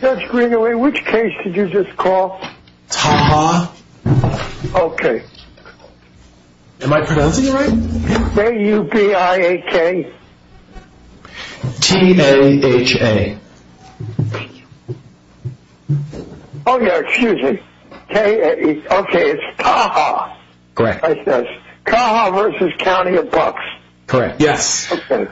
Judge Greenaway, which case did you just call? Taha. Okay. Am I pronouncing it right? T-A-U-B-I-H-A T-A-H-A Oh yeah, excuse me. Okay, it's Taha. Correct. Taha versus CountyofBucks. Correct.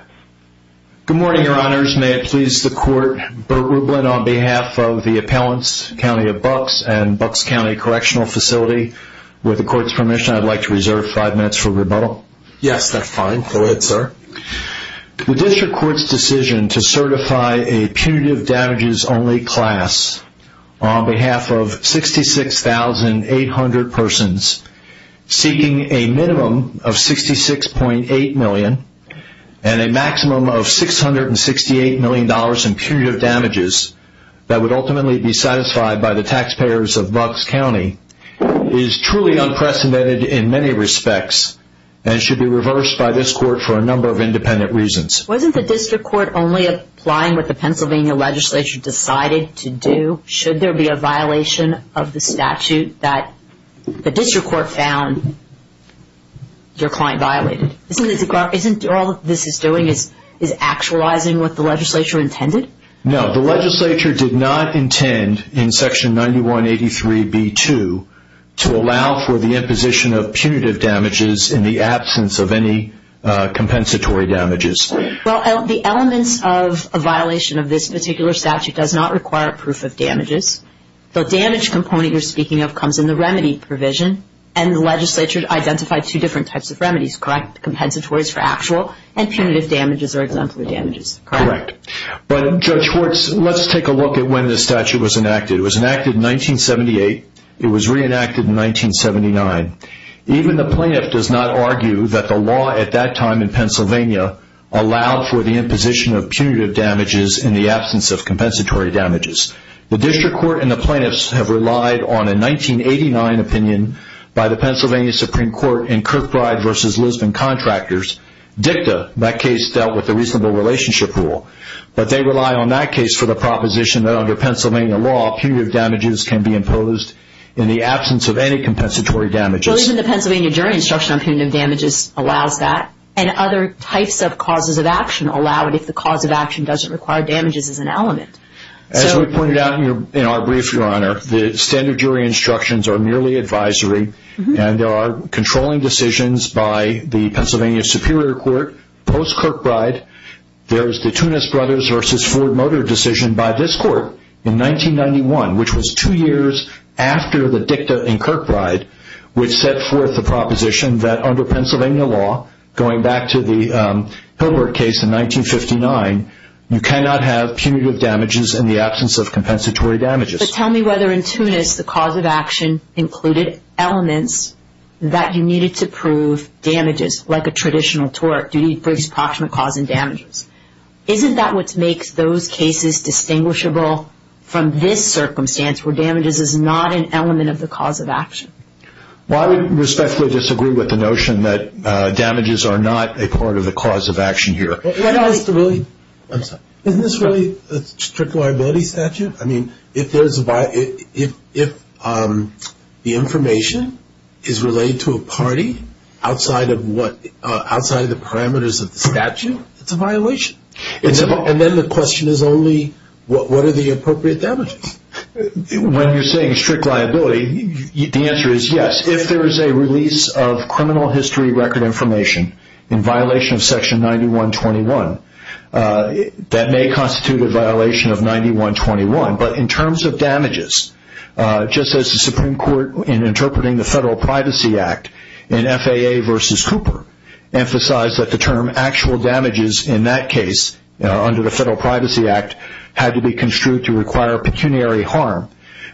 Good morning, your honors. May it please the court, Burt Rublin on behalf of the appellants, CountyofBucks and Bucks County Correctional Facility. With the court's permission, I'd like to reserve five minutes for rebuttal. Yes, that's fine. Go ahead, sir. The district court's decision to certify a punitive damages only class on behalf of 66,800 persons seeking a minimum of $66.8 million and a maximum of $668 million in punitive damages that would ultimately be satisfied by the taxpayers of Bucks County is truly unprecedented in many respects and should be reversed by this court for a number of independent reasons. Wasn't the district court only applying what the Pennsylvania legislature decided to do? Should there be a violation of the statute that the district court found your client violated? Isn't all this is doing is actualizing what the legislature intended? No, the legislature did not intend in section 9183B2 to allow for the imposition of punitive damages in the absence of any compensatory damages. Well, the elements of a violation of this particular statute does not require proof of damages. The damage component you're speaking of comes in the remedy provision and the legislature identified two different types of remedies, correct? Compensatories for actual and punitive damages or exemplary damages, correct? Correct. But Judge Schwartz, let's take a look at when this statute was enacted. It was enacted in 1978. It was reenacted in 1979. Even the plaintiff does not argue that the law at that time in Pennsylvania allowed for the imposition of punitive damages in the absence of compensatory damages. The district court and the plaintiffs have relied on a 1989 opinion by the Pennsylvania Supreme Court in Kirkbride v. Lisbon Contractors. DICTA, that case dealt with the reasonable relationship rule. But they rely on that case for the proposition that under Pennsylvania law punitive damages can be imposed in the absence of any compensatory damages. Well, even the Pennsylvania jury instruction on punitive damages allows that and other types of causes of action allow it if the cause of action doesn't require damages as an element. As we pointed out in our brief, Your Honor, the standard jury instructions are merely advisory and there are controlling decisions by the Pennsylvania Superior Court post-Kirkbride. There's the Tunis Brothers v. Ford Motor decision by this court in 1991, which was two years after the DICTA in Kirkbride, which set forth the proposition that under Pennsylvania law, going back to the Hilbert case in 1959, you cannot have punitive damages in the absence of compensatory damages. But tell me whether in Tunis the cause of action included elements that you needed to prove damages, like a traditional tort. You need to prove approximate cause and damages. Isn't that what makes those cases distinguishable from this circumstance where damages is not an element of the cause of action? Well, I would respectfully disagree with the notion that damages are not a part of the cause of action here. Isn't this really a strict liability statute? I mean, if the information is relayed to a party outside of the parameters of the statute, it's a violation. And then the question is only, what are the appropriate damages? When you're saying strict liability, the answer is yes. If there is a release of criminal history record information in violation of section 9121, that may constitute a violation of 9121. But in terms of damages, just as the Supreme Court in interpreting the Federal Privacy Act in FAA v. Cooper, emphasized that the term actual damages in that case under the Federal Privacy Act had to be construed to require pecuniary harm.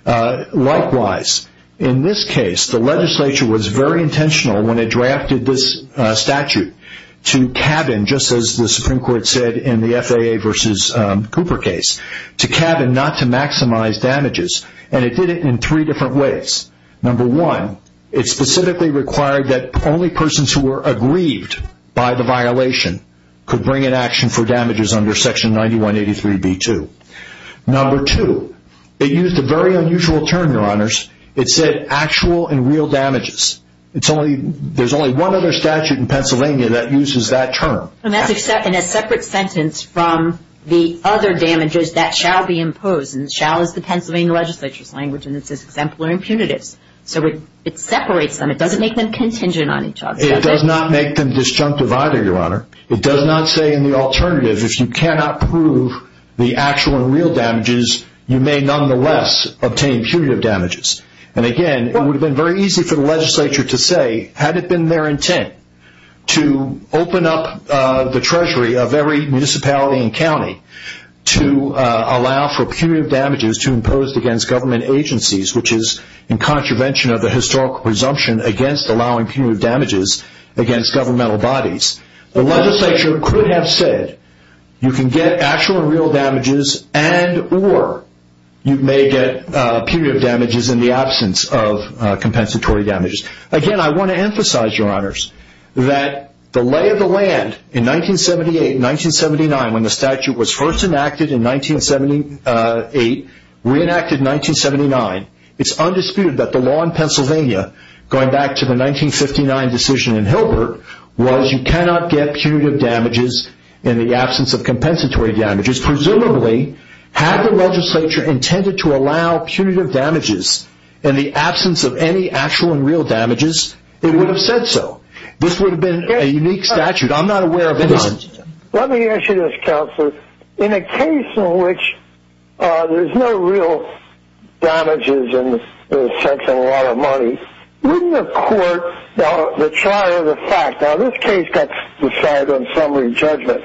Likewise, in this case, the legislature was very intentional when it drafted this statute to cabin, just as the Supreme Court said in the FAA v. Cooper case, to cabin not to maximize damages. And it did it in three different ways. Number one, it specifically required that only persons who were aggrieved by the violation could bring an action for damages under section 9183b2. Number two, it used a very unusual term, Your Honors. It said actual and real damages. There's only one other statute in Pennsylvania that uses that term. And that's in a separate sentence from the other damages that shall be imposed. And shall is the Pennsylvania legislature's language, and it says exemplary impunitives. So it separates them. It doesn't make them contingent on each other. It does not make them disjunctive either, Your Honor. It does not say in the alternative, if you cannot prove the actual and real damages, you may nonetheless obtain punitive damages. And, again, it would have been very easy for the legislature to say, had it been their intent, to open up the treasury of every municipality and county to allow for punitive damages to impose against government agencies, which is in contravention of the historical presumption against allowing punitive damages against governmental bodies. The legislature could have said, you can get actual and real damages, and or you may get punitive damages in the absence of compensatory damages. Again, I want to emphasize, Your Honors, that the lay of the land in 1978 and 1979, when the statute was first enacted in 1978, re-enacted in 1979, it's undisputed that the law in Pennsylvania, going back to the 1959 decision in Hilbert, was you cannot get punitive damages in the absence of compensatory damages. Presumably, had the legislature intended to allow punitive damages in the absence of any actual and real damages, it would have said so. This would have been a unique statute. I'm not aware of any other. Let me ask you this, Counselor. In a case in which there's no real damages in the sense of a lot of money, wouldn't the court, the trial of the fact, now this case got decided on summary judgment,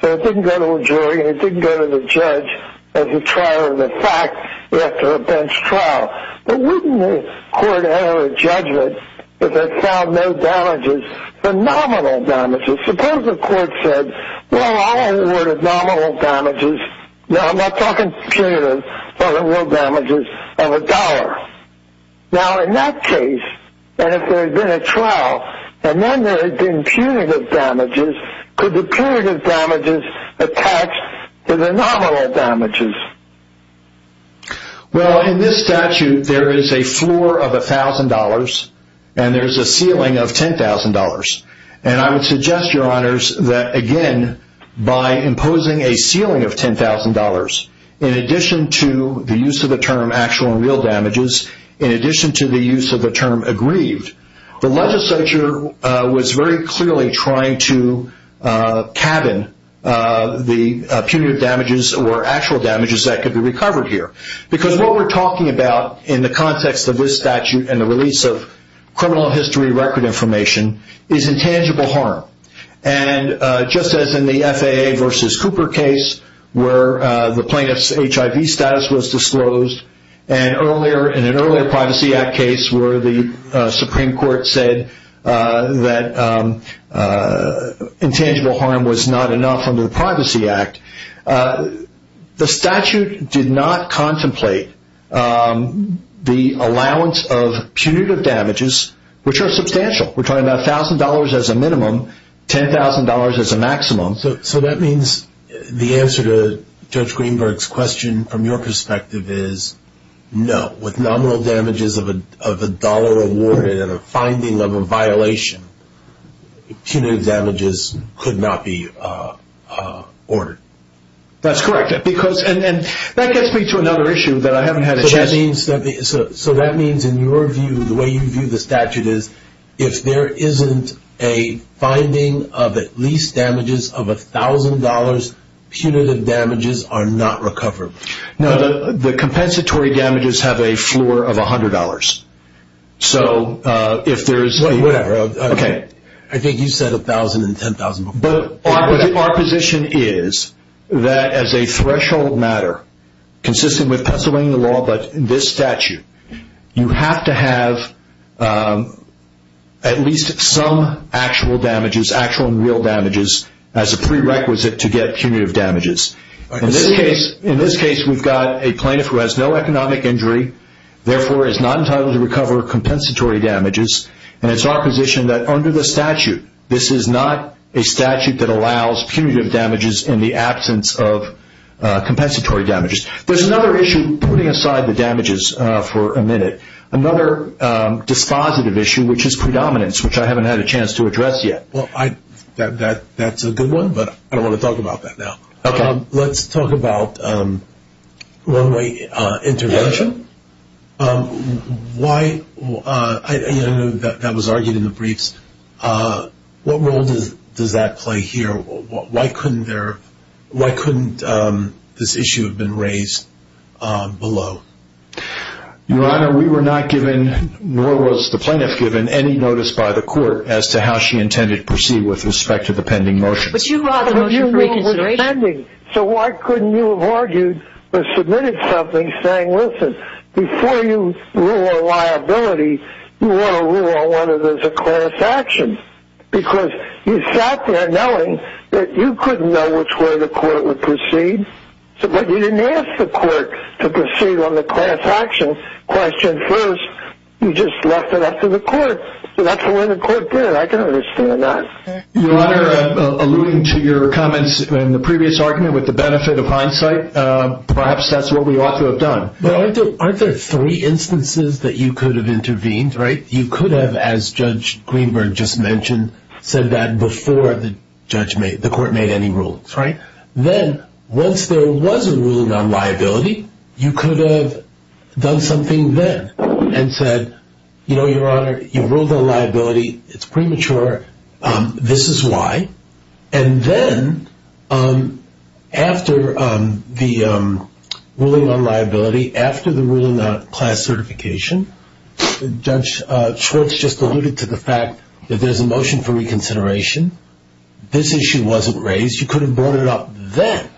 so it didn't go to a jury and it didn't go to the judge as a trial of the fact after a bench trial, but wouldn't the court have a judgment if it found no damages, phenomenal damages? Suppose the court said, well, I awarded nominal damages. Now, I'm not talking punitive. I awarded damages of a dollar. Now, in that case, and if there had been a trial and then there had been punitive damages, could the punitive damages attach to the nominal damages? Well, in this statute, there is a floor of $1,000 and there's a ceiling of $10,000. And I would suggest, Your Honors, that, again, by imposing a ceiling of $10,000, in addition to the use of the term actual and real damages, in addition to the use of the term aggrieved, the legislature was very clearly trying to cabin the punitive damages or actual damages that could be recovered here. Because what we're talking about in the context of this statute and the release of criminal history record information is intangible harm. And just as in the FAA versus Cooper case where the plaintiff's HIV status was disclosed and in an earlier Privacy Act case where the Supreme Court said that intangible harm was not enough under the Privacy Act, the statute did not contemplate the allowance of punitive damages, which are substantial. We're talking about $1,000 as a minimum, $10,000 as a maximum. So that means the answer to Judge Greenberg's question from your perspective is no. With nominal damages of $1 awarded and a finding of a violation, punitive damages could not be ordered. That's correct. And that gets me to another issue that I haven't had a chance to... So that means, in your view, the way you view the statute is, if there isn't a finding of at least damages of $1,000, punitive damages are not recovered. No, the compensatory damages have a floor of $100. So if there's... Whatever. Okay. I think you said $1,000 and $10,000 before. But our position is that as a threshold matter, consistent with Pennsylvania law but in this statute, you have to have at least some actual damages, actual and real damages, as a prerequisite to get punitive damages. In this case, we've got a plaintiff who has no economic injury, therefore is not entitled to recover compensatory damages, and it's our position that under the statute, this is not a statute that allows punitive damages in the absence of compensatory damages. There's another issue, putting aside the damages for a minute, another dispositive issue, which is predominance, which I haven't had a chance to address yet. That's a good one, but I don't want to talk about that now. Okay. Let's talk about one-way intervention. I know that was argued in the briefs. What role does that play here? Why couldn't this issue have been raised below? Your Honor, we were not given, nor was the plaintiff given, any notice by the court as to how she intended to proceed with respect to the pending motion. But you brought the motion for reconsideration. So why couldn't you have argued or submitted something saying, listen, before you rule on liability, you want to rule on whether there's a class action? Because you sat there knowing that you couldn't know which way the court would proceed, but you didn't ask the court to proceed on the class action question first. You just left it up to the court. So that's the way the court did it. I can understand that. Your Honor, alluding to your comments in the previous argument with the benefit of hindsight, perhaps that's what we ought to have done. Aren't there three instances that you could have intervened? You could have, as Judge Greenberg just mentioned, said that before the court made any rulings. Then once there was a ruling on liability, you could have done something then and said, You know, Your Honor, you ruled on liability. It's premature. This is why. And then after the ruling on liability, after the ruling on class certification, Judge Schwartz just alluded to the fact that there's a motion for reconsideration. This issue wasn't raised. You could have brought it up then.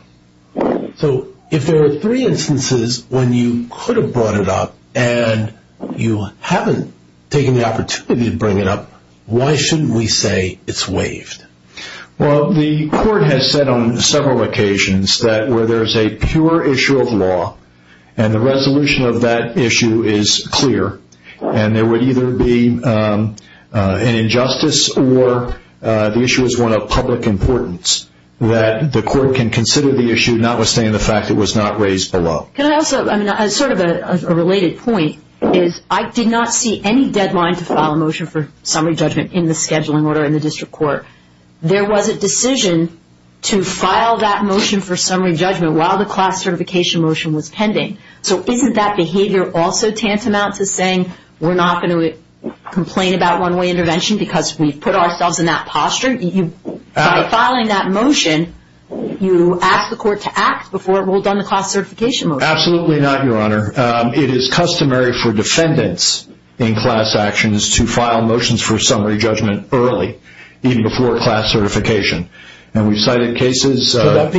So if there are three instances when you could have brought it up and you haven't taken the opportunity to bring it up, why shouldn't we say it's waived? Well, the court has said on several occasions that where there's a pure issue of law and the resolution of that issue is clear and there would either be an injustice or the issue is one of public importance that the court can consider the issue, notwithstanding the fact it was not raised below. Can I also, I mean, sort of a related point is I did not see any deadline to file a motion for summary judgment in the scheduling order in the district court. There was a decision to file that motion for summary judgment while the class certification motion was pending. So isn't that behavior also tantamount to saying we're not going to complain about one-way intervention because we've put ourselves in that posture? By filing that motion, you ask the court to act before it will have done the class certification motion. Absolutely not, Your Honor. It is customary for defendants in class actions to file motions for summary judgment early, even before class certification, and we've cited cases. So that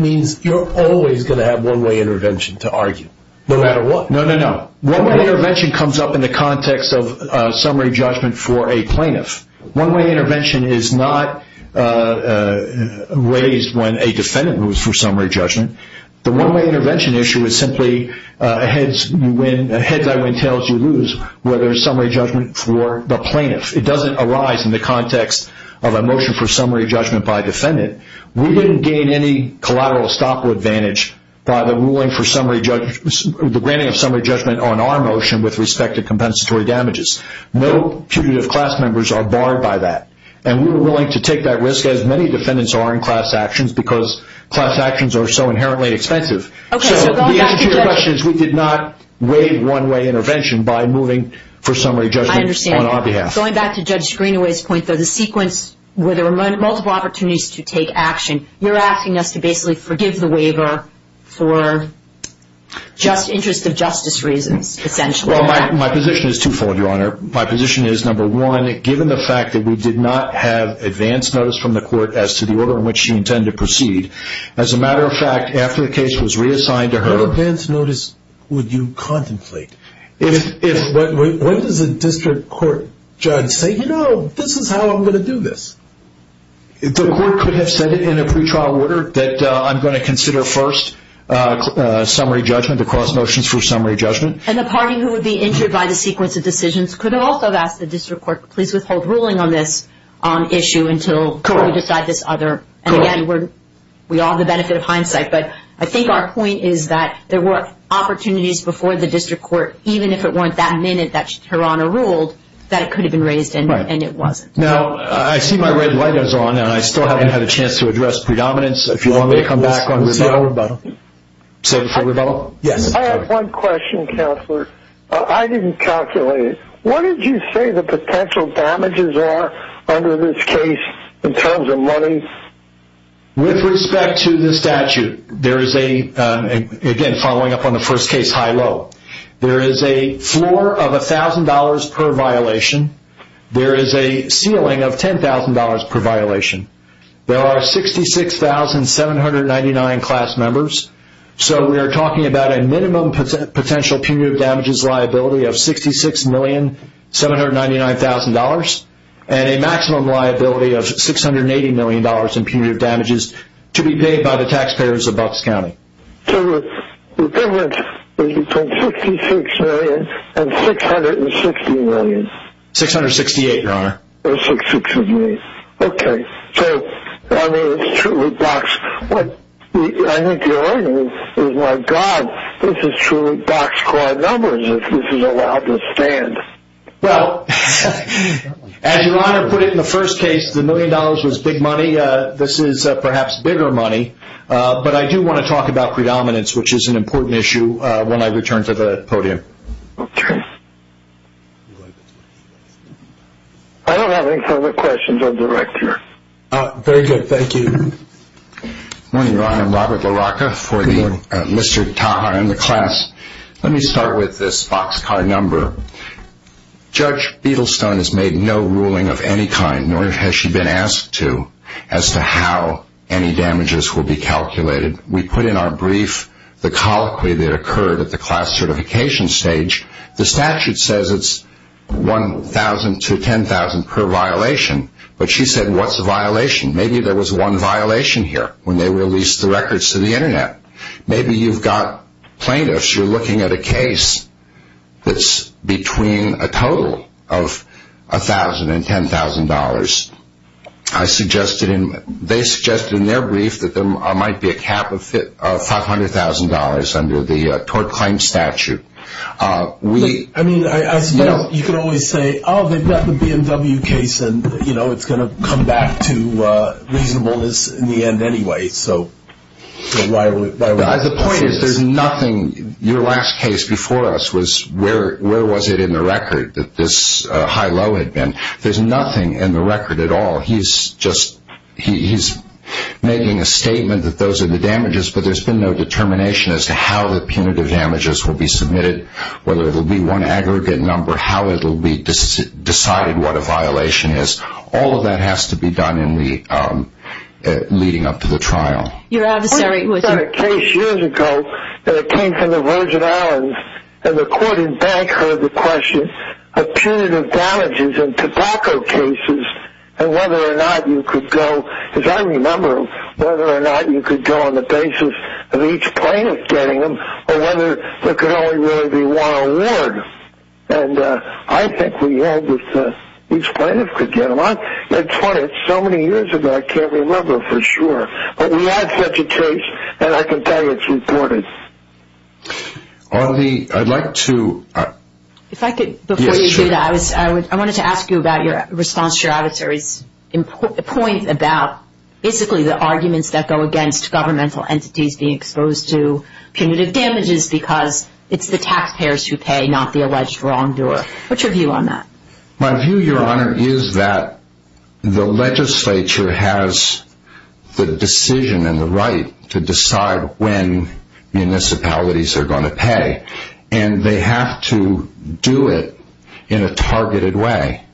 means you're always going to have one-way intervention to argue, no matter what? No, no, no. One-way intervention comes up in the context of summary judgment for a plaintiff. One-way intervention is not raised when a defendant moves for summary judgment. The one-way intervention issue is simply heads you win, heads I win, tails you lose, whether it's summary judgment for the plaintiff. It doesn't arise in the context of a motion for summary judgment by a defendant. We didn't gain any collateral or stock advantage by the granting of summary judgment on our motion with respect to compensatory damages. No putative class members are barred by that, and we were willing to take that risk as many defendants are in class actions because class actions are so inherently expensive. So the answer to your question is we did not waive one-way intervention by moving for summary judgment on our behalf. I understand. Going back to Judge Greenaway's point, though, the sequence where there were multiple opportunities to take action, you're asking us to basically forgive the waiver for interest of justice reasons, essentially. Well, my position is twofold, Your Honor. My position is, number one, given the fact that we did not have advance notice from the court as to the order in which she intended to proceed, as a matter of fact, after the case was reassigned to her. What advance notice would you contemplate? What does a district court judge say? You know, this is how I'm going to do this. The court could have said in a pretrial order that I'm going to consider first summary judgment, the cross motions for summary judgment. And the party who would be injured by the sequence of decisions could have also asked the district court, please withhold ruling on this issue until we decide this other. And again, we all have the benefit of hindsight, but I think our point is that there were opportunities before the district court, even if it weren't that minute that Your Honor ruled, that it could have been raised and it wasn't. Now, I see my red light is on, and I still haven't had a chance to address predominance. If you want me to come back on rebuttal? Say before rebuttal? Yes. I have one question, Counselor. I didn't calculate it. What did you say the potential damages are under this case in terms of money? With respect to the statute, again, following up on the first case high-low, there is a floor of $1,000 per violation. There is a ceiling of $10,000 per violation. There are 66,799 class members, so we are talking about a minimum potential punitive damages liability of $66,799,000 and a maximum liability of $680,000,000 in punitive damages to be paid by the taxpayers of Bucks County. So the difference is between $66,000,000 and $660,000,000. $668,000, Your Honor. $668,000, okay. So, I mean, it's truly Bucks. What I think you're arguing is, my God, this is truly Bucks squad numbers if this is allowed to stand. Well, as Your Honor put it in the first case, the $1,000,000 was big money. This is perhaps bigger money. But I do want to talk about predominance, which is an important issue when I return to the podium. Okay. I don't have any further questions on the record. Very good. Thank you. Good morning, Your Honor. I'm Robert LaRocca for the Mr. Taha and the class. Let me start with this Bucks card number. Judge Biddlestone has made no ruling of any kind, nor has she been asked to, as to how any damages will be calculated. We put in our brief the colloquy that occurred at the class certification stage. The statute says it's $1,000,000 to $10,000,000 per violation. But she said, what's the violation? Maybe there was one violation here when they released the records to the Internet. Maybe you've got plaintiffs. You're looking at a case that's between a total of $1,000,000 and $10,000,000. They suggested in their brief that there might be a cap of $500,000 under the tort claim statute. I mean, I suppose you could always say, oh, they've got the BMW case, and it's going to come back to reasonableness in the end anyway. The point is, there's nothing. Your last case before us was, where was it in the record that this high-low had been? There's nothing in the record at all. He's making a statement that those are the damages, but there's been no determination as to how the punitive damages will be submitted, whether it will be one aggregate number, how it will be decided what a violation is. All of that has to be done in the leading up to the trial. Your adversary was in a case years ago that came from the Virgin Islands, and the court in back heard the question of punitive damages in tobacco cases and whether or not you could go, because I remember whether or not you could go on the basis of each plaintiff getting them, or whether there could only really be one award. And I think we all just, each plaintiff could get them. It's funny, it's so many years ago, I can't remember for sure. But we had such a case, and I can tell you it's important. Before you do that, I wanted to ask you about your response to your adversary's point about, basically, the arguments that go against governmental entities being exposed to punitive damages because it's the taxpayers who pay, not the alleged wrongdoer. What's your view on that? My view, Your Honor, is that the legislature has the decision and the right to decide when municipalities are going to pay. And they have to do it in a targeted way.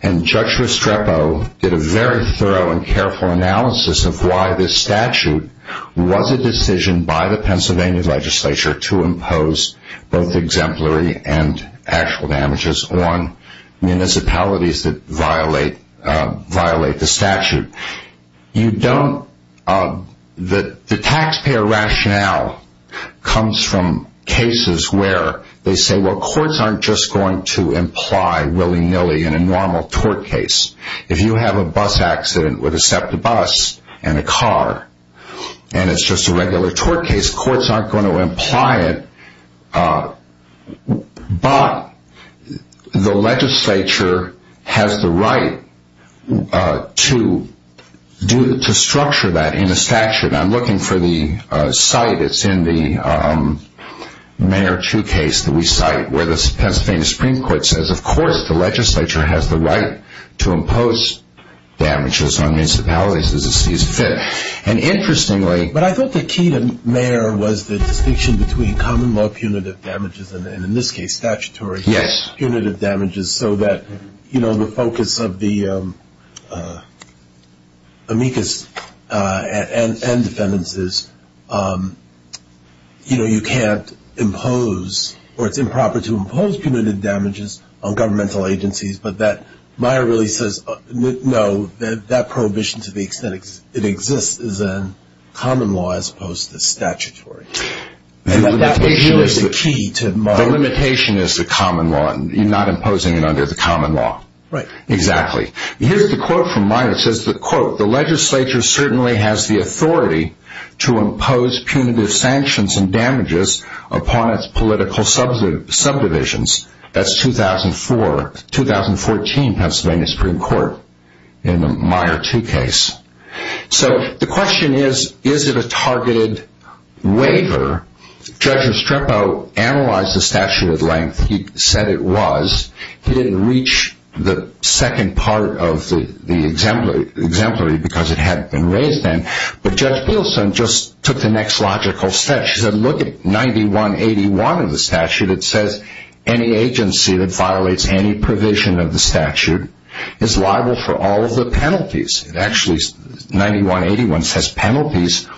And Judge Restrepo did a very thorough and careful analysis of why this statute was a decision by the Pennsylvania legislature to impose both exemplary and actual damages on municipalities that violate the statute. The taxpayer rationale comes from cases where they say, well, courts aren't just going to imply willy-nilly in a normal tort case. If you have a bus accident with a SEPTA bus and a car, and it's just a regular tort case, courts aren't going to imply it. But the legislature has the right to structure that in a statute. I'm looking for the site. It's in the Mayor Chu case that we cite, where the Pennsylvania Supreme Court says, of course the legislature has the right to impose damages on municipalities as it sees fit. But I thought the key to Mayor was the distinction between common law punitive damages and, in this case, statutory punitive damages, so that the focus of the amicus and defendances, you know, you can't impose, or it's improper to impose punitive damages on governmental agencies, but that Meyer really says, no, that prohibition to the extent it exists is in common law as opposed to statutory. And that was really the key to Meyer. The limitation is the common law. You're not imposing it under the common law. Right. Exactly. Here's the quote from Meyer. It says, quote, the legislature certainly has the authority to impose punitive sanctions and damages upon its political subdivisions. That's 2004, 2014 Pennsylvania Supreme Court in the Meyer Chu case. So the question is, is it a targeted waiver? Judge Estrepo analyzed the statute at length. He said it was. He didn't reach the second part of the exemplary because it hadn't been raised then, but Judge Pielson just took the next logical step. She said, look at 9181 of the statute. It says any agency that violates any provision of the statute is liable for all of the penalties. Actually, 9181 says penalties,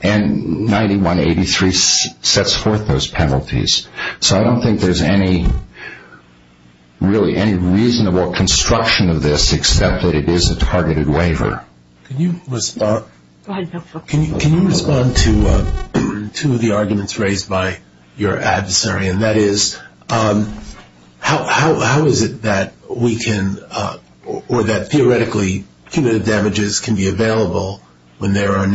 and 9183 sets forth those penalties. So I don't think there's really any reasonable construction of this except that it is a targeted waiver. Can you respond to two of the arguments raised by your adversary, and that is how is it that we can or that theoretically punitive damages can be available when there's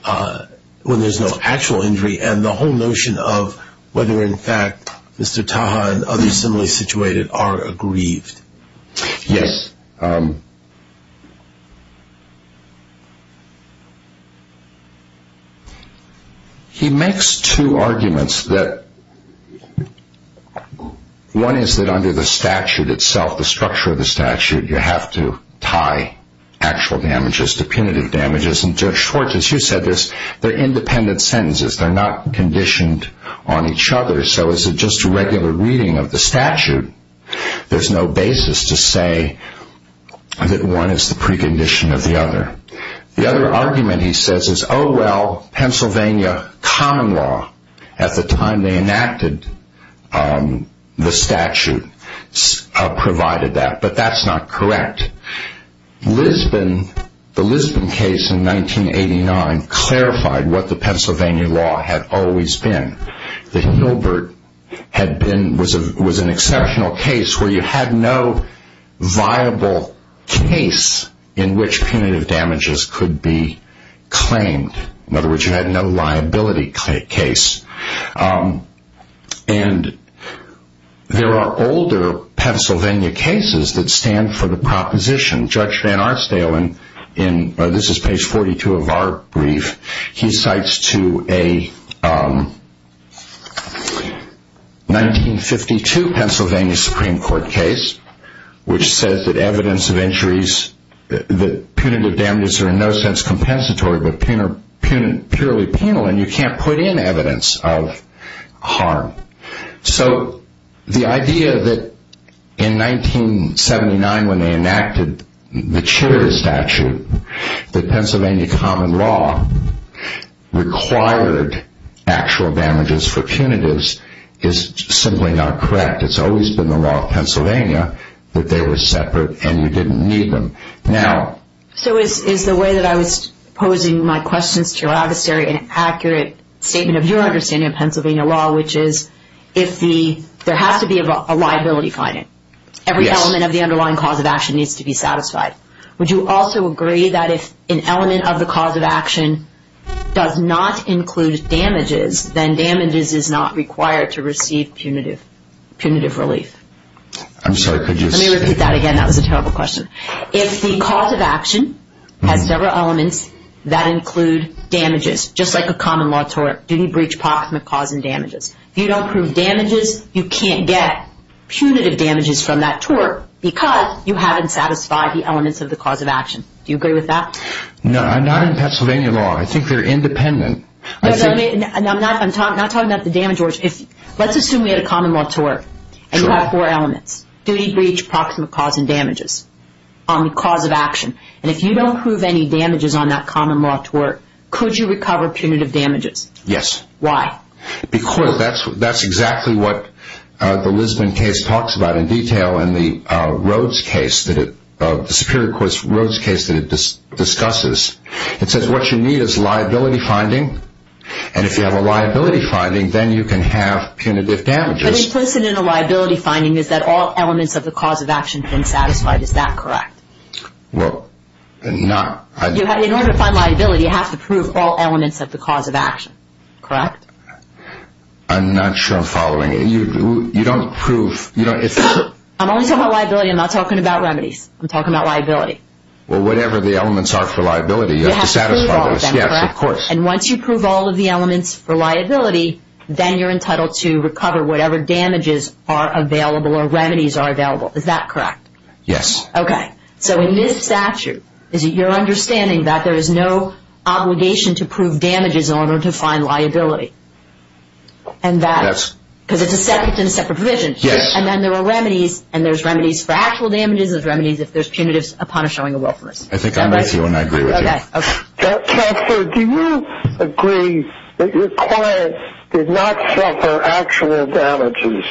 no actual injury and the whole notion of whether, in fact, Mr. Taha and others similarly situated are aggrieved? Yes. He makes two arguments. One is that under the statute itself, the structure of the statute, you have to tie actual damages to punitive damages. And Judge Schwartz, as you said, they're independent sentences. They're not conditioned on each other, so it's just a regular reading of the statute. There's no basis to say that one is the precondition of the other. The other argument he says is, oh, well, Pennsylvania common law, at the time they enacted the statute, provided that, but that's not correct. The Lisbon case in 1989 clarified what the Pennsylvania law had always been. The Hilbert was an exceptional case where you had no viable case in which punitive damages could be claimed. In other words, you had no liability case. And there are older Pennsylvania cases that stand for the proposition. Judge Van Arsdale, and this is page 42 of our brief, he cites to a 1952 Pennsylvania Supreme Court case, which says that evidence of injuries, that punitive damages are in no sense compensatory, but purely penal, and you can't put in evidence of harm. So the idea that in 1979, when they enacted the Chitterer statute, that Pennsylvania common law required actual damages for punitives is simply not correct. It's always been the law of Pennsylvania that they were separate and you didn't need them. So is the way that I was posing my questions to your adversary an accurate statement of your understanding of Pennsylvania law, which is if there has to be a liability finding, every element of the underlying cause of action needs to be satisfied, would you also agree that if an element of the cause of action does not include damages, then damages is not required to receive punitive relief? I'm sorry, could you... Let me repeat that again. That was a terrible question. If the cause of action has several elements that include damages, just like a common law tort, duty, breach, proximate cause, and damages, if you don't prove damages, you can't get punitive damages from that tort because you haven't satisfied the elements of the cause of action. Do you agree with that? No, I'm not in Pennsylvania law. I think they're independent. I'm not talking about the damage order. Let's assume we had a common law tort and you have four elements, duty, breach, proximate cause, and damages on the cause of action, and if you don't prove any damages on that common law tort, could you recover punitive damages? Yes. Why? Because that's exactly what the Lisbon case talks about in detail and the Superior Court's Rhodes case that it discusses. It says what you need is liability finding, and if you have a liability finding, then you can have punitive damages. But implicit in a liability finding is that all elements of the cause of action have been satisfied. Is that correct? Well, not. In order to find liability, you have to prove all elements of the cause of action, correct? I'm not sure I'm following. You don't prove. I'm only talking about liability. I'm not talking about remedies. I'm talking about liability. Well, whatever the elements are for liability, you have to satisfy those. You have to prove all of them, correct? Yes, of course. And once you prove all of the elements for liability, then you're entitled to recover whatever damages are available or remedies are available. Is that correct? Yes. Okay. So in this statute, is it your understanding that there is no obligation to prove damages in order to find liability? And that's because it's a separate provision. Yes. And then there are remedies, and there's remedies for actual damages. There's remedies if there's punitives upon a showing of willfulness. I think I'm with you and I agree with you. Okay. Professor, do you agree that your client did not suffer actual damages?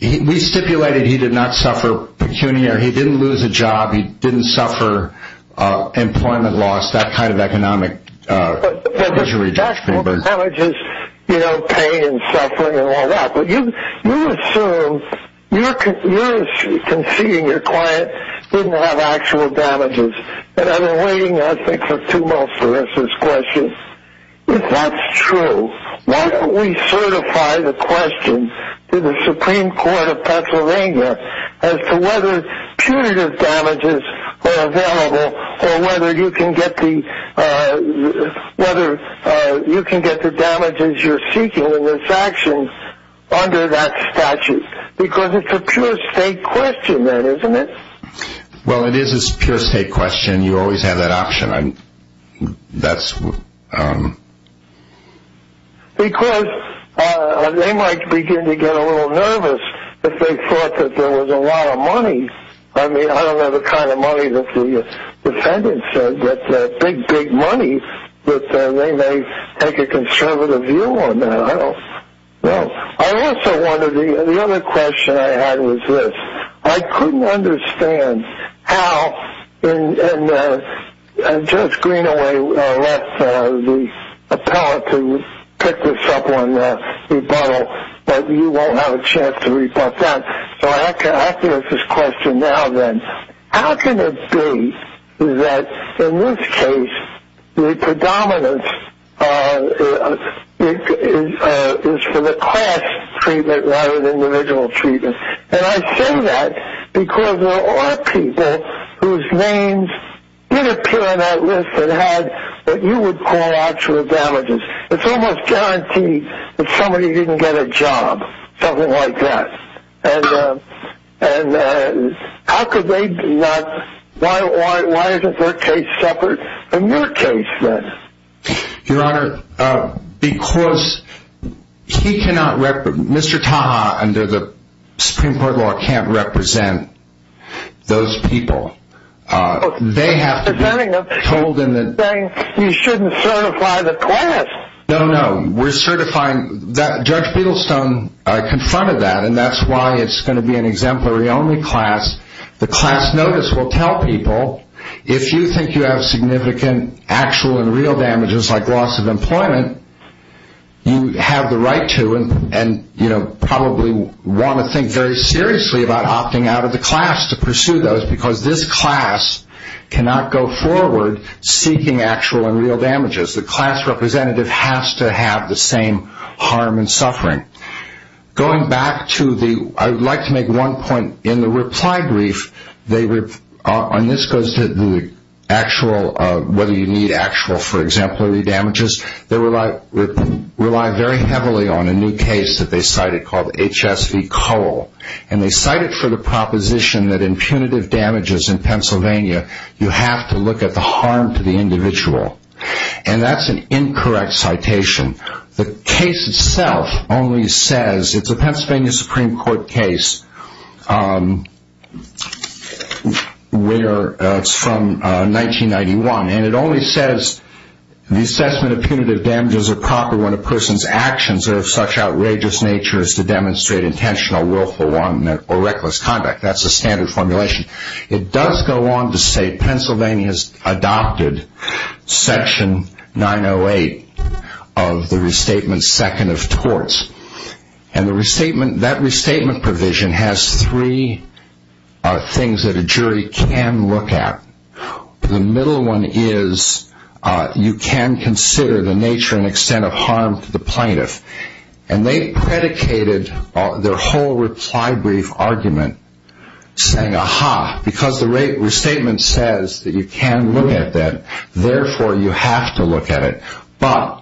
We stipulated he did not suffer pecuniary. He didn't lose a job. He didn't suffer employment loss, that kind of economic injury. But the actual damages, you know, pain and suffering and all that. But you assume, you're conceding your client didn't have actual damages. And I've been waiting, I think, for two months for this question. If that's true, why don't we certify the question to the Supreme Court of Pennsylvania as to whether punitive damages are available or whether you can get the damages you're seeking in this action under that statute? Because it's a pure state question then, isn't it? Well, it is a pure state question. You always have that option. Because they might begin to get a little nervous if they thought that there was a lot of money. I mean, I don't have the kind of money that the defendant said, but big, big money that they may take a conservative view on that. I don't know. I also wonder, the other question I had was this. I couldn't understand how, and Judge Greenaway left the appellate to pick this up on the rebuttal, but you won't have a chance to rebut that. So I have to ask this question now then. How can it be that in this case the predominance is for the class treatment rather than individual treatment? And I say that because there are people whose names did appear on that list that you would call actual damages. It's almost guaranteed that somebody didn't get a job, something like that. And how could they not? Why isn't their case separate from your case then? Your Honor, because he cannot, Mr. Taha under the Supreme Court law can't represent those people. They have to be told in the. You shouldn't certify the class. No, no. We're certifying, Judge Beadlestone confronted that, and that's why it's going to be an exemplary only class. The class notice will tell people if you think you have significant actual and real damages like loss of employment, you have the right to and probably want to think very seriously about opting out of the class to pursue those because this class cannot go forward seeking actual and real damages. The class representative has to have the same harm and suffering. Going back to the, I would like to make one point. In the reply brief, and this goes to the actual, whether you need actual for exemplary damages, they rely very heavily on a new case that they cited called HSV Cole. And they cited for the proposition that in punitive damages in Pennsylvania, you have to look at the harm to the individual. And that's an incorrect citation. The case itself only says, it's a Pennsylvania Supreme Court case where it's from 1991, and it only says the assessment of punitive damages are proper when a person's actions are of such outrageous nature as to demonstrate intentional willful or reckless conduct. That's the standard formulation. It does go on to say Pennsylvania has adopted section 908 of the restatement second of torts. And that restatement provision has three things that a jury can look at. The middle one is you can consider the nature and extent of harm to the plaintiff. And they predicated their whole reply brief argument saying, aha, because the restatement says that you can look at that, therefore you have to look at it. But,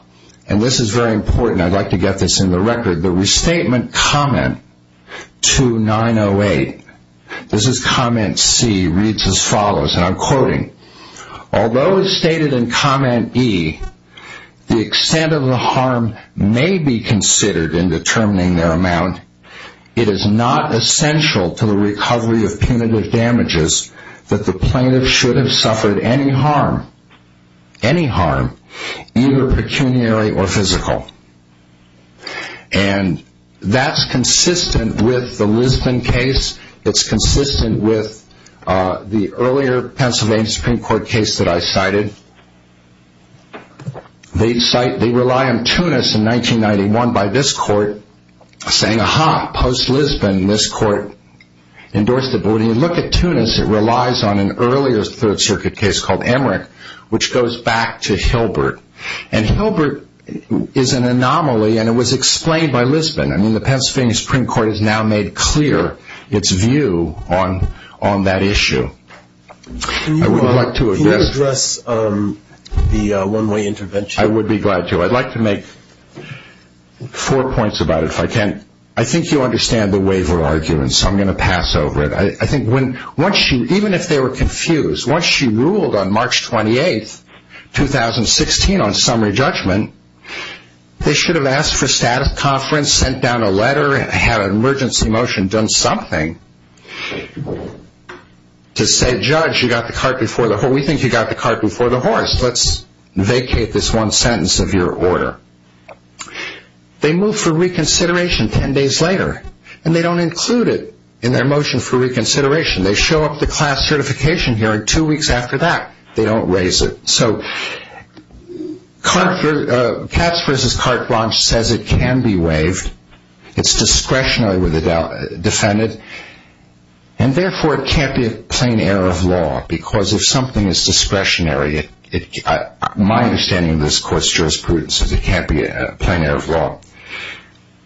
and this is very important, I'd like to get this in the record, the restatement comment to 908, this is comment C, reads as follows, and I'm quoting. Although it's stated in comment E, the extent of the harm may be considered in determining their amount, it is not essential to the recovery of punitive damages that the plaintiff should have suffered any harm, any harm, either pecuniary or physical. And that's consistent with the Lisbon case. It's consistent with the earlier Pennsylvania Supreme Court case that I cited. They rely on Tunis in 1991 by this court saying, aha, post-Lisbon, this court endorsed it. But when you look at Tunis, it relies on an earlier Third Circuit case called Emmerich, which goes back to Hilbert. And Hilbert is an anomaly, and it was explained by Lisbon. I mean, the Pennsylvania Supreme Court has now made clear its view on that issue. I would like to address the one-way intervention. I would be glad to. I'd like to make four points about it if I can. I think you understand the waiver argument, so I'm going to pass over it. I think once she, even if they were confused, once she ruled on March 28, 2016, on summary judgment, they should have asked for status conference, sent down a letter, had an emergency motion, done something to say, judge, you got the cart before the horse. We think you got the cart before the horse. Let's vacate this one sentence of your order. They move for reconsideration ten days later, and they don't include it in their motion for reconsideration. They show up the class certification hearing two weeks after that. They don't raise it. So Katz v. Carte Blanche says it can be waived. It's discretionary with the defendant, and therefore it can't be a plain error of law, because if something is discretionary, my understanding of this court's jurisprudence is it can't be a plain error of law.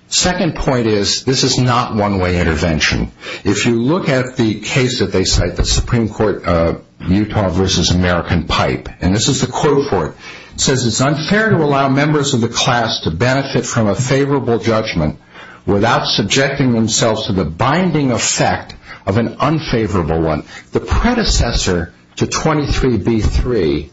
Second point is this is not one-way intervention. If you look at the case that they cite, the Supreme Court Utah v. American Pipe, and this is the quote for it. It says it's unfair to allow members of the class to benefit from a favorable judgment without subjecting themselves to the binding effect of an unfavorable one. The predecessor to 23b-3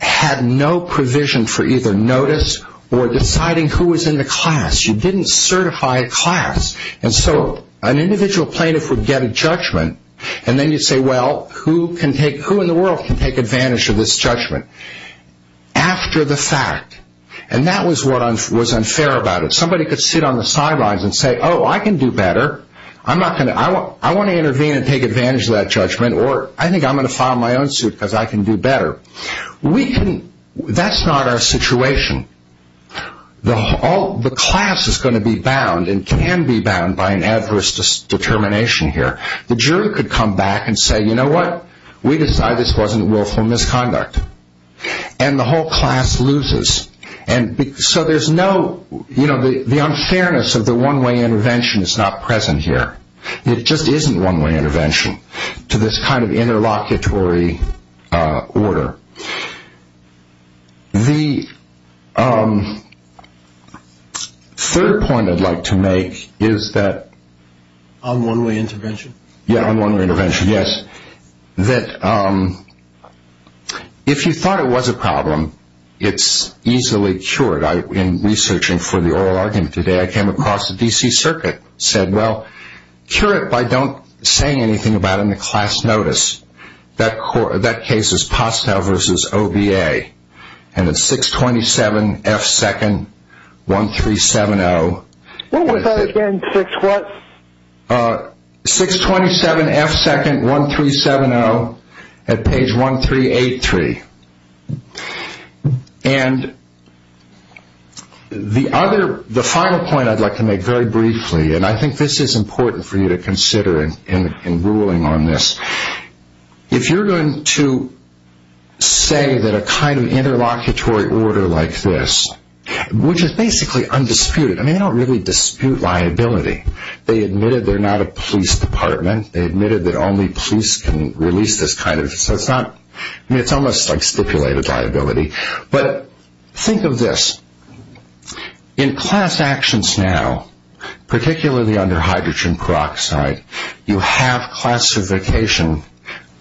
had no provision for either notice or deciding who was in the class. You didn't certify a class. And so an individual plaintiff would get a judgment, and then you say, well, who in the world can take advantage of this judgment after the fact? And that was what was unfair about it. Somebody could sit on the sidelines and say, oh, I can do better. I want to intervene and take advantage of that judgment, or I think I'm going to file my own suit because I can do better. That's not our situation. The class is going to be bound and can be bound by an adverse determination here. The jury could come back and say, you know what, we decide this wasn't willful misconduct. And the whole class loses. So there's no, you know, the unfairness of the one-way intervention is not present here. It just isn't one-way intervention to this kind of interlocutory order. The third point I'd like to make is that... On one-way intervention? Yeah, on one-way intervention, yes. That if you thought it was a problem, it's easily cured. In researching for the oral argument today, I came across the D.C. Circuit, said, well, cure it by don't saying anything about it in the class notice. That case is Postow v. OBA, and it's 627 F. 2nd, 1370. What was that again, 6 what? 627 F. 2nd, 1370 at page 1383. And the other, the final point I'd like to make very briefly, and I think this is important for you to consider in ruling on this. If you're going to say that a kind of interlocutory order like this, which is basically undisputed. I mean, they don't really dispute liability. They admitted they're not a police department. They admitted that only police can release this kind of... I mean, it's almost like stipulated liability. But think of this. In class actions now, particularly under hydrogen peroxide, you have classification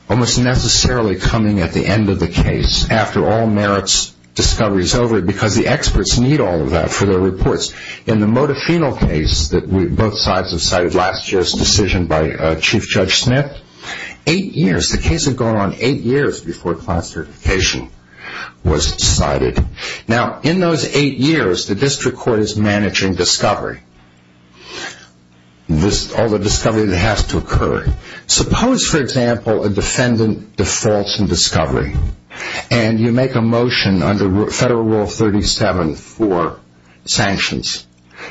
almost necessarily coming at the end of the case, after all merits, discovery is over, because the experts need all of that for their reports. In the Modafinil case that both sides have cited, last year's decision by Chief Judge Smith, eight years, the case had gone on eight years before classification was cited. Now, in those eight years, the district court is managing discovery, all the discovery that has to occur. Suppose, for example, a defendant defaults in discovery, and you make a motion under Federal Rule 37 for sanctions.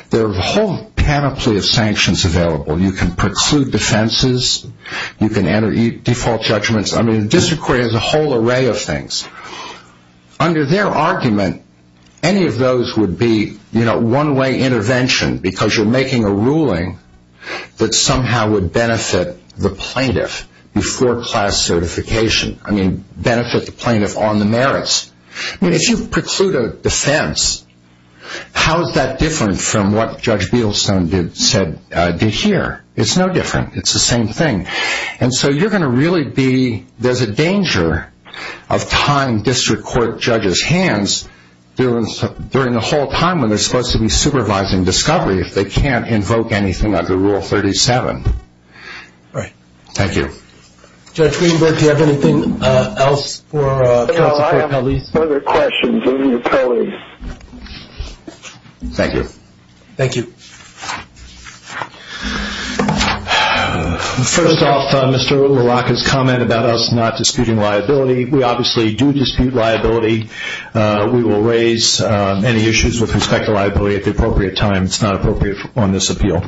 There are a whole panoply of sanctions available. You can preclude defenses. You can enter default judgments. I mean, the district court has a whole array of things. Under their argument, any of those would be one-way intervention, because you're making a ruling that somehow would benefit the plaintiff before class certification. I mean, benefit the plaintiff on the merits. I mean, if you preclude a defense, how is that different from what Judge Beadlestone did here? It's no different. It's the same thing. And so you're going to really be, there's a danger of tying district court judges' hands during the whole time when they're supposed to be supervising discovery if they can't invoke anything under Rule 37. All right. Thank you. Judge Greenberg, do you have anything else for counsel for police? No, I have no other questions. Give me your police. Thank you. Thank you. First off, Mr. LaRocca's comment about us not disputing liability, we obviously do dispute liability. We will raise any issues with respect to liability at the appropriate time. It's not appropriate on this appeal.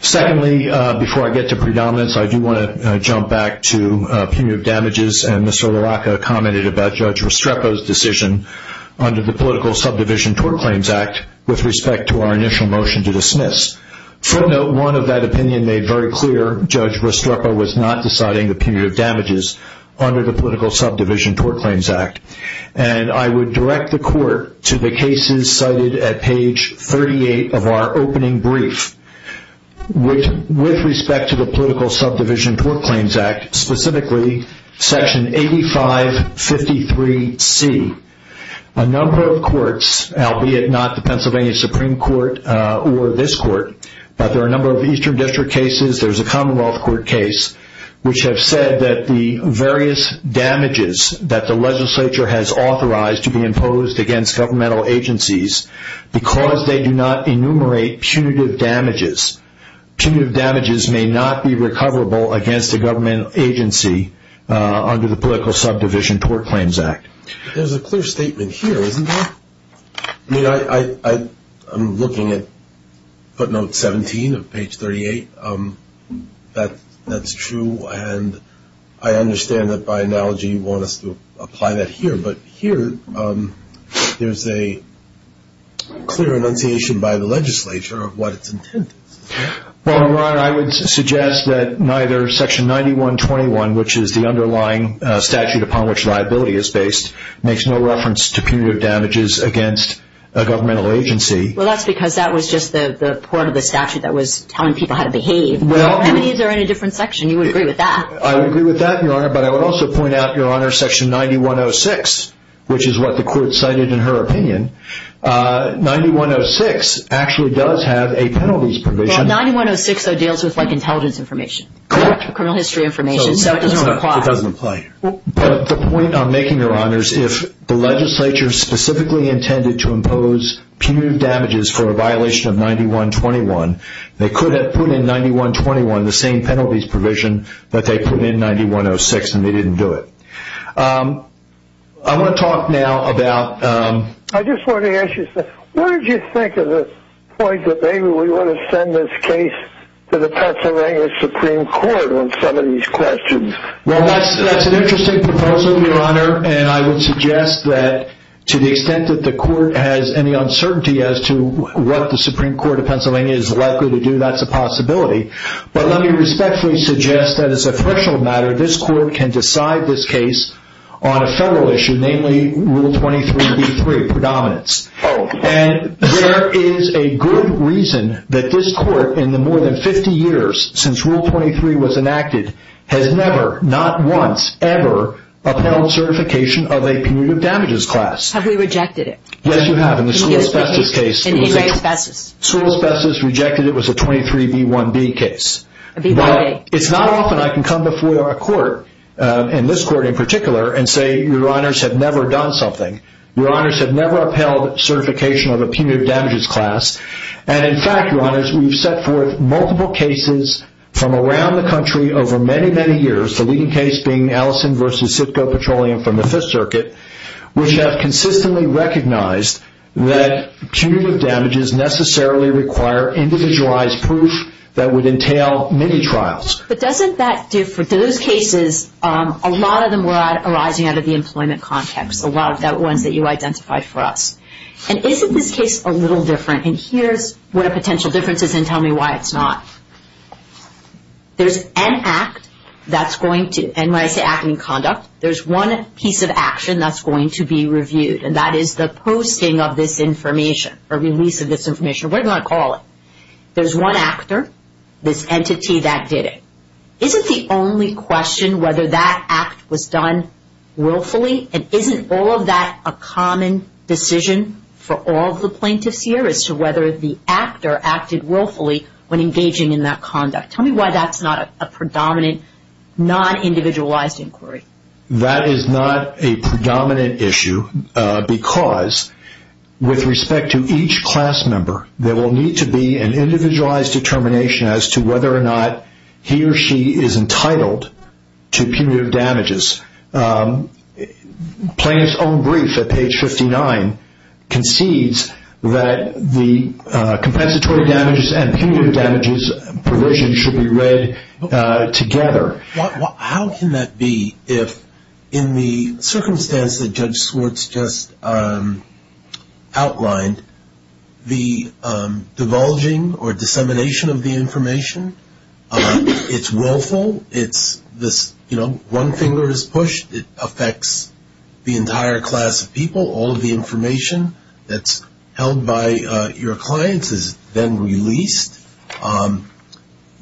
Secondly, before I get to predominance, I do want to jump back to punitive damages, and Mr. LaRocca commented about Judge Restrepo's decision under the Political Subdivision Tort Claims Act with respect to our initial motion to dismiss. Footnote one of that opinion made very clear, Judge Restrepo was not deciding the punitive damages under the Political Subdivision Tort Claims Act. And I would direct the court to the cases cited at page 38 of our opening brief, which with respect to the Political Subdivision Tort Claims Act, specifically Section 8553C, a number of courts, albeit not the Pennsylvania Supreme Court or this court, but there are a number of Eastern District cases, there's a Commonwealth Court case, which have said that the various damages that the legislature has authorized to be imposed against governmental agencies, because they do not enumerate punitive damages, punitive damages may not be recoverable against a governmental agency under the Political Subdivision Tort Claims Act. There's a clear statement here, isn't there? I mean, I'm looking at footnote 17 of page 38. That's true, and I understand that by analogy you want us to apply that here, but here there's a clear annunciation by the legislature of what its intent is. Well, Ron, I would suggest that neither Section 9121, which is the underlying statute upon which liability is based, makes no reference to punitive damages against a governmental agency. Well, that's because that was just the part of the statute that was telling people how to behave. I mean, these are in a different section. You would agree with that. I would agree with that, Your Honor, but I would also point out, Your Honor, Section 9106, which is what the court cited in her opinion, 9106 actually does have a penalties provision. Well, 9106, though, deals with intelligence information, criminal history information, so it doesn't apply. It doesn't apply. But the point I'm making, Your Honor, is if the legislature specifically intended to impose punitive damages for a violation of 9121, they could have put in 9121 the same penalties provision that they put in 9106, and they didn't do it. I want to talk now about – I just wanted to ask you, sir, what did you think of the point that maybe we want to send this case to the Pennsylvania Supreme Court on some of these questions? Well, that's an interesting proposal, Your Honor, and I would suggest that to the extent that the court has any uncertainty as to what the Supreme Court of Pennsylvania is likely to do, that's a possibility. But let me respectfully suggest that as a threshold matter, this court can decide this case on a federal issue, namely Rule 23b3, predominance. Oh. And there is a good reason that this court, in the more than 50 years since Rule 23 was enacted, has never, not once, ever upheld certification of a punitive damages class. Have we rejected it? Yes, you have. In the school asbestos case. In E-ray asbestos. School asbestos rejected it was a 23b1b case. It's not often I can come before a court, and this court in particular, and say, Your Honors have never done something. Your Honors have never upheld certification of a punitive damages class, and in fact, Your Honors, we've set forth multiple cases from around the country over many, many years, the leading case being Allison v. Sitko Petroleum from the Fifth Circuit, which have consistently recognized that punitive damages necessarily require individualized proof that would entail many trials. But doesn't that do for those cases, a lot of them were arising out of the employment context, a lot of the ones that you identified for us? And isn't this case a little different, and here's what a potential difference is, and tell me why it's not. There's an act that's going to, and when I say act in conduct, there's one piece of action that's going to be reviewed, and that is the posting of this information or release of this information, whatever you want to call it. There's one actor, this entity that did it. Isn't the only question whether that act was done willfully, and isn't all of that a common decision for all of the plaintiffs here as to whether the actor acted willfully when engaging in that conduct? Tell me why that's not a predominant, non-individualized inquiry. That is not a predominant issue because with respect to each class member, there will need to be an individualized determination as to whether or not he or she is entitled to punitive damages. Plaintiff's own brief at page 59 concedes that the compensatory damages and punitive damages provision should be read together. How can that be if in the circumstance that Judge Swartz just outlined, the divulging or dissemination of the information, it's willful, it's this, you know, one finger is pushed, it affects the entire class of people, all of the information that's held by your clients is then released.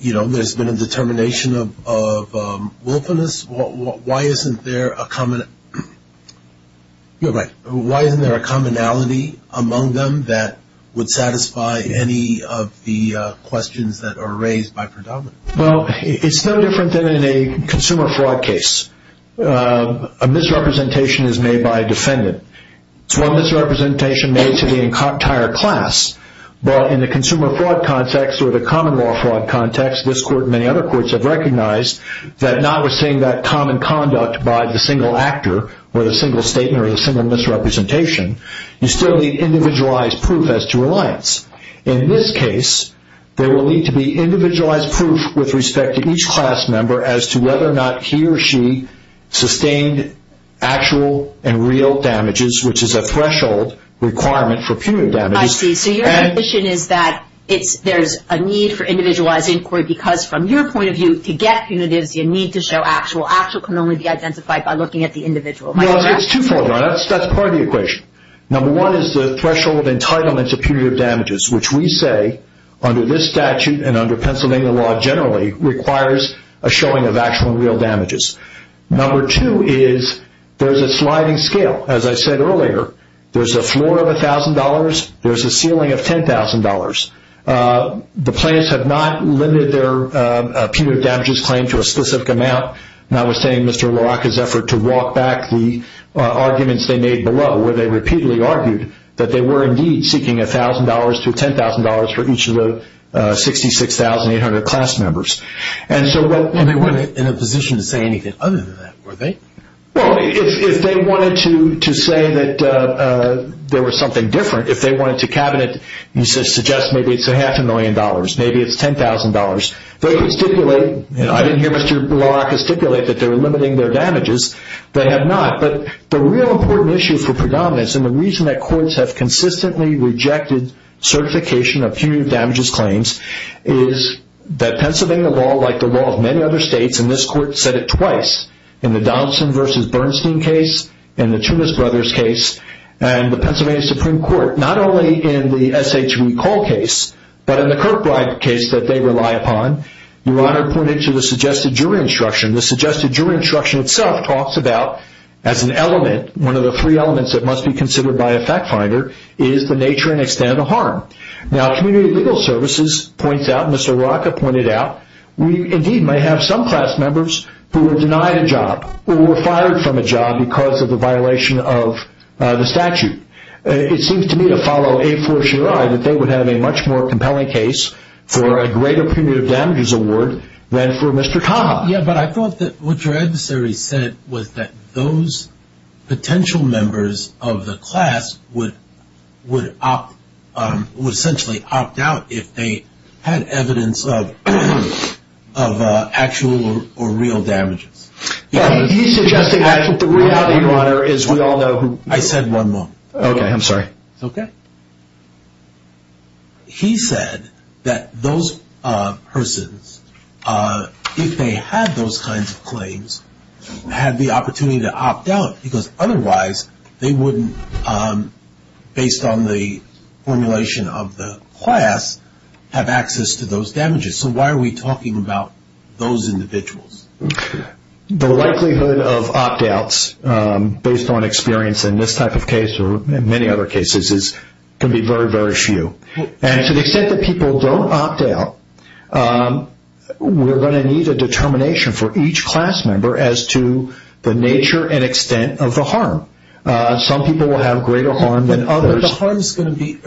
You know, there's been a determination of willfulness. Why isn't there a commonality among them that would satisfy any of the questions that are raised by predominance? Well, it's no different than in a consumer fraud case. A misrepresentation is made by a defendant. It's one misrepresentation made to the entire class, but in the consumer fraud context or the common law fraud context, this court and many other courts have recognized that notwithstanding that common conduct by the single actor or the single statement or the single misrepresentation, you still need individualized proof as to reliance. In this case, there will need to be individualized proof with respect to each class member as to whether or not he or she sustained actual and real damages, which is a threshold requirement for punitive damages. I see. So your condition is that there's a need for individualized inquiry because from your point of view, to get punitives, you need to show actual. Actual can only be identified by looking at the individual. No, it's twofold. That's part of the equation. Number one is the threshold entitlement to punitive damages, which we say under this statute and under Pennsylvania law generally requires a showing of actual and real damages. Number two is there's a sliding scale. As I said earlier, there's a floor of $1,000. There's a ceiling of $10,000. The plaintiffs have not limited their punitive damages claim to a specific amount. Notwithstanding Mr. LaRocca's effort to walk back the arguments they made below where they repeatedly argued that they were indeed seeking $1,000 to $10,000 for each of the 66,800 class members. And they weren't in a position to say anything other than that, were they? Well, if they wanted to say that there was something different, if they wanted to cabinet, you suggest maybe it's a half a million dollars, maybe it's $10,000. They could stipulate, and I didn't hear Mr. LaRocca stipulate that they were limiting their damages. They have not. But the real important issue for predominance, and the reason that courts have consistently rejected certification of punitive damages claims, is that Pennsylvania law, like the law of many other states, and this court said it twice, in the Donaldson v. Bernstein case, in the Tunis Brothers case, and the Pennsylvania Supreme Court, not only in the SHV Cole case, but in the Kirkbride case that they rely upon. Your Honor pointed to the suggested jury instruction. The suggested jury instruction itself talks about, as an element, one of the three elements that must be considered by a fact finder, is the nature and extent of harm. Now, Community Legal Services points out, Mr. LaRocca pointed out, we indeed might have some class members who were denied a job, or were fired from a job because of the violation of the statute. It seems to me to follow a fortiori that they would have a much more compelling case for a greater punitive damages award than for Mr. Cobb. Yeah, but I thought that what your adversary said was that those potential members of the class would essentially opt out if they had evidence of actual or real damages. He's suggesting that the reality, Your Honor, is we all know who... I said one more. It's okay. He said that those persons, if they had those kinds of claims, had the opportunity to opt out, because otherwise they wouldn't, based on the formulation of the class, have access to those damages. So why are we talking about those individuals? The likelihood of opt outs, based on experience in this type of case, or many other cases, can be very, very few. And to the extent that people don't opt out, we're going to need a determination for each class member as to the nature and extent of the harm. Some people will have greater harm than others. But the harm is going to be...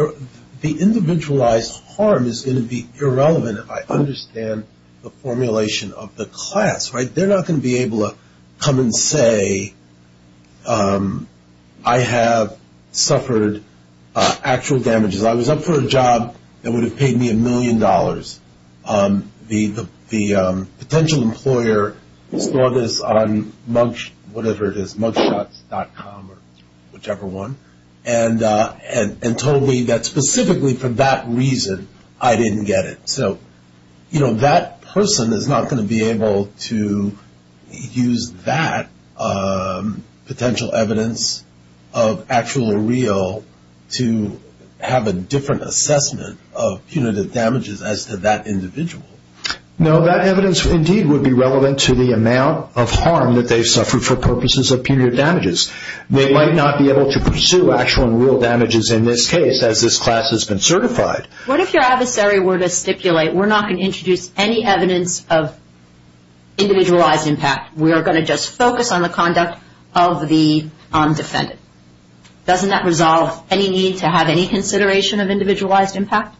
The individualized harm is going to be irrelevant if I understand the formulation of the class, right? They're not going to be able to come and say, I have suffered actual damages. I was up for a job that would have paid me a million dollars. The potential employer saw this on mugshots.com or whichever one, and told me that specifically for that reason I didn't get it. So, you know, that person is not going to be able to use that potential evidence of actual or real to have a different assessment of punitive damages as to that individual. No, that evidence indeed would be relevant to the amount of harm that they've suffered for purposes of punitive damages. They might not be able to pursue actual and real damages in this case, as this class has been certified. What if your adversary were to stipulate, we're not going to introduce any evidence of individualized impact. We are going to just focus on the conduct of the undefended. Doesn't that resolve any need to have any consideration of individualized impact?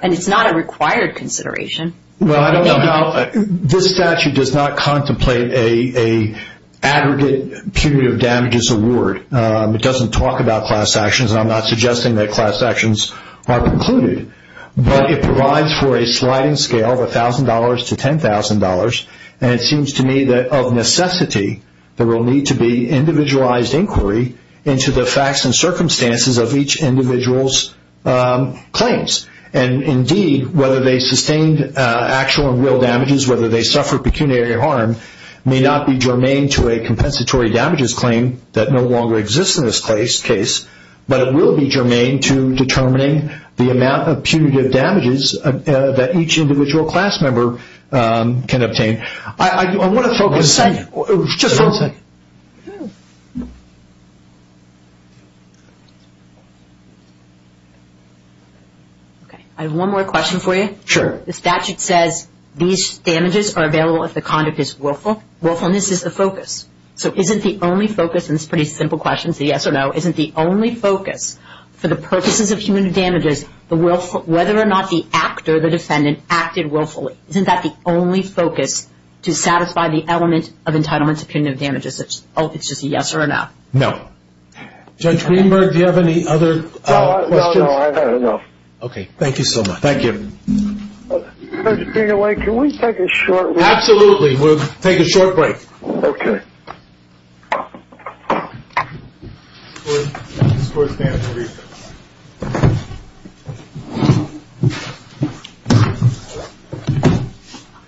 And it's not a required consideration. Well, I don't know how... This statute does not contemplate an aggregate punitive damages award. It doesn't talk about class actions, and I'm not suggesting that class actions are precluded. But it provides for a sliding scale of $1,000 to $10,000, and it seems to me that of necessity there will need to be individualized inquiry into the facts and circumstances of each individual's claims. And indeed, whether they sustained actual and real damages, whether they suffered pecuniary harm, may not be germane to a compensatory damages claim that no longer exists in this case, but it will be germane to determining the amount of punitive damages that each individual class member can obtain. I want to focus... One second. Just one second. I have one more question for you. Sure. The statute says these damages are available if the conduct is willful. Willfulness is the focus. So isn't the only focus, and it's a pretty simple question, it's a yes or no, isn't the only focus for the purposes of punitive damages whether or not the actor, the defendant, acted willfully? Isn't that the only focus to satisfy the element of entitlement to punitive damages? It's just a yes or a no. No. Judge Greenberg, do you have any other questions? No, no, no. Okay, thank you so much. Thank you. Judge Greenberg, can we take a short break? Absolutely, we'll take a short break. Okay.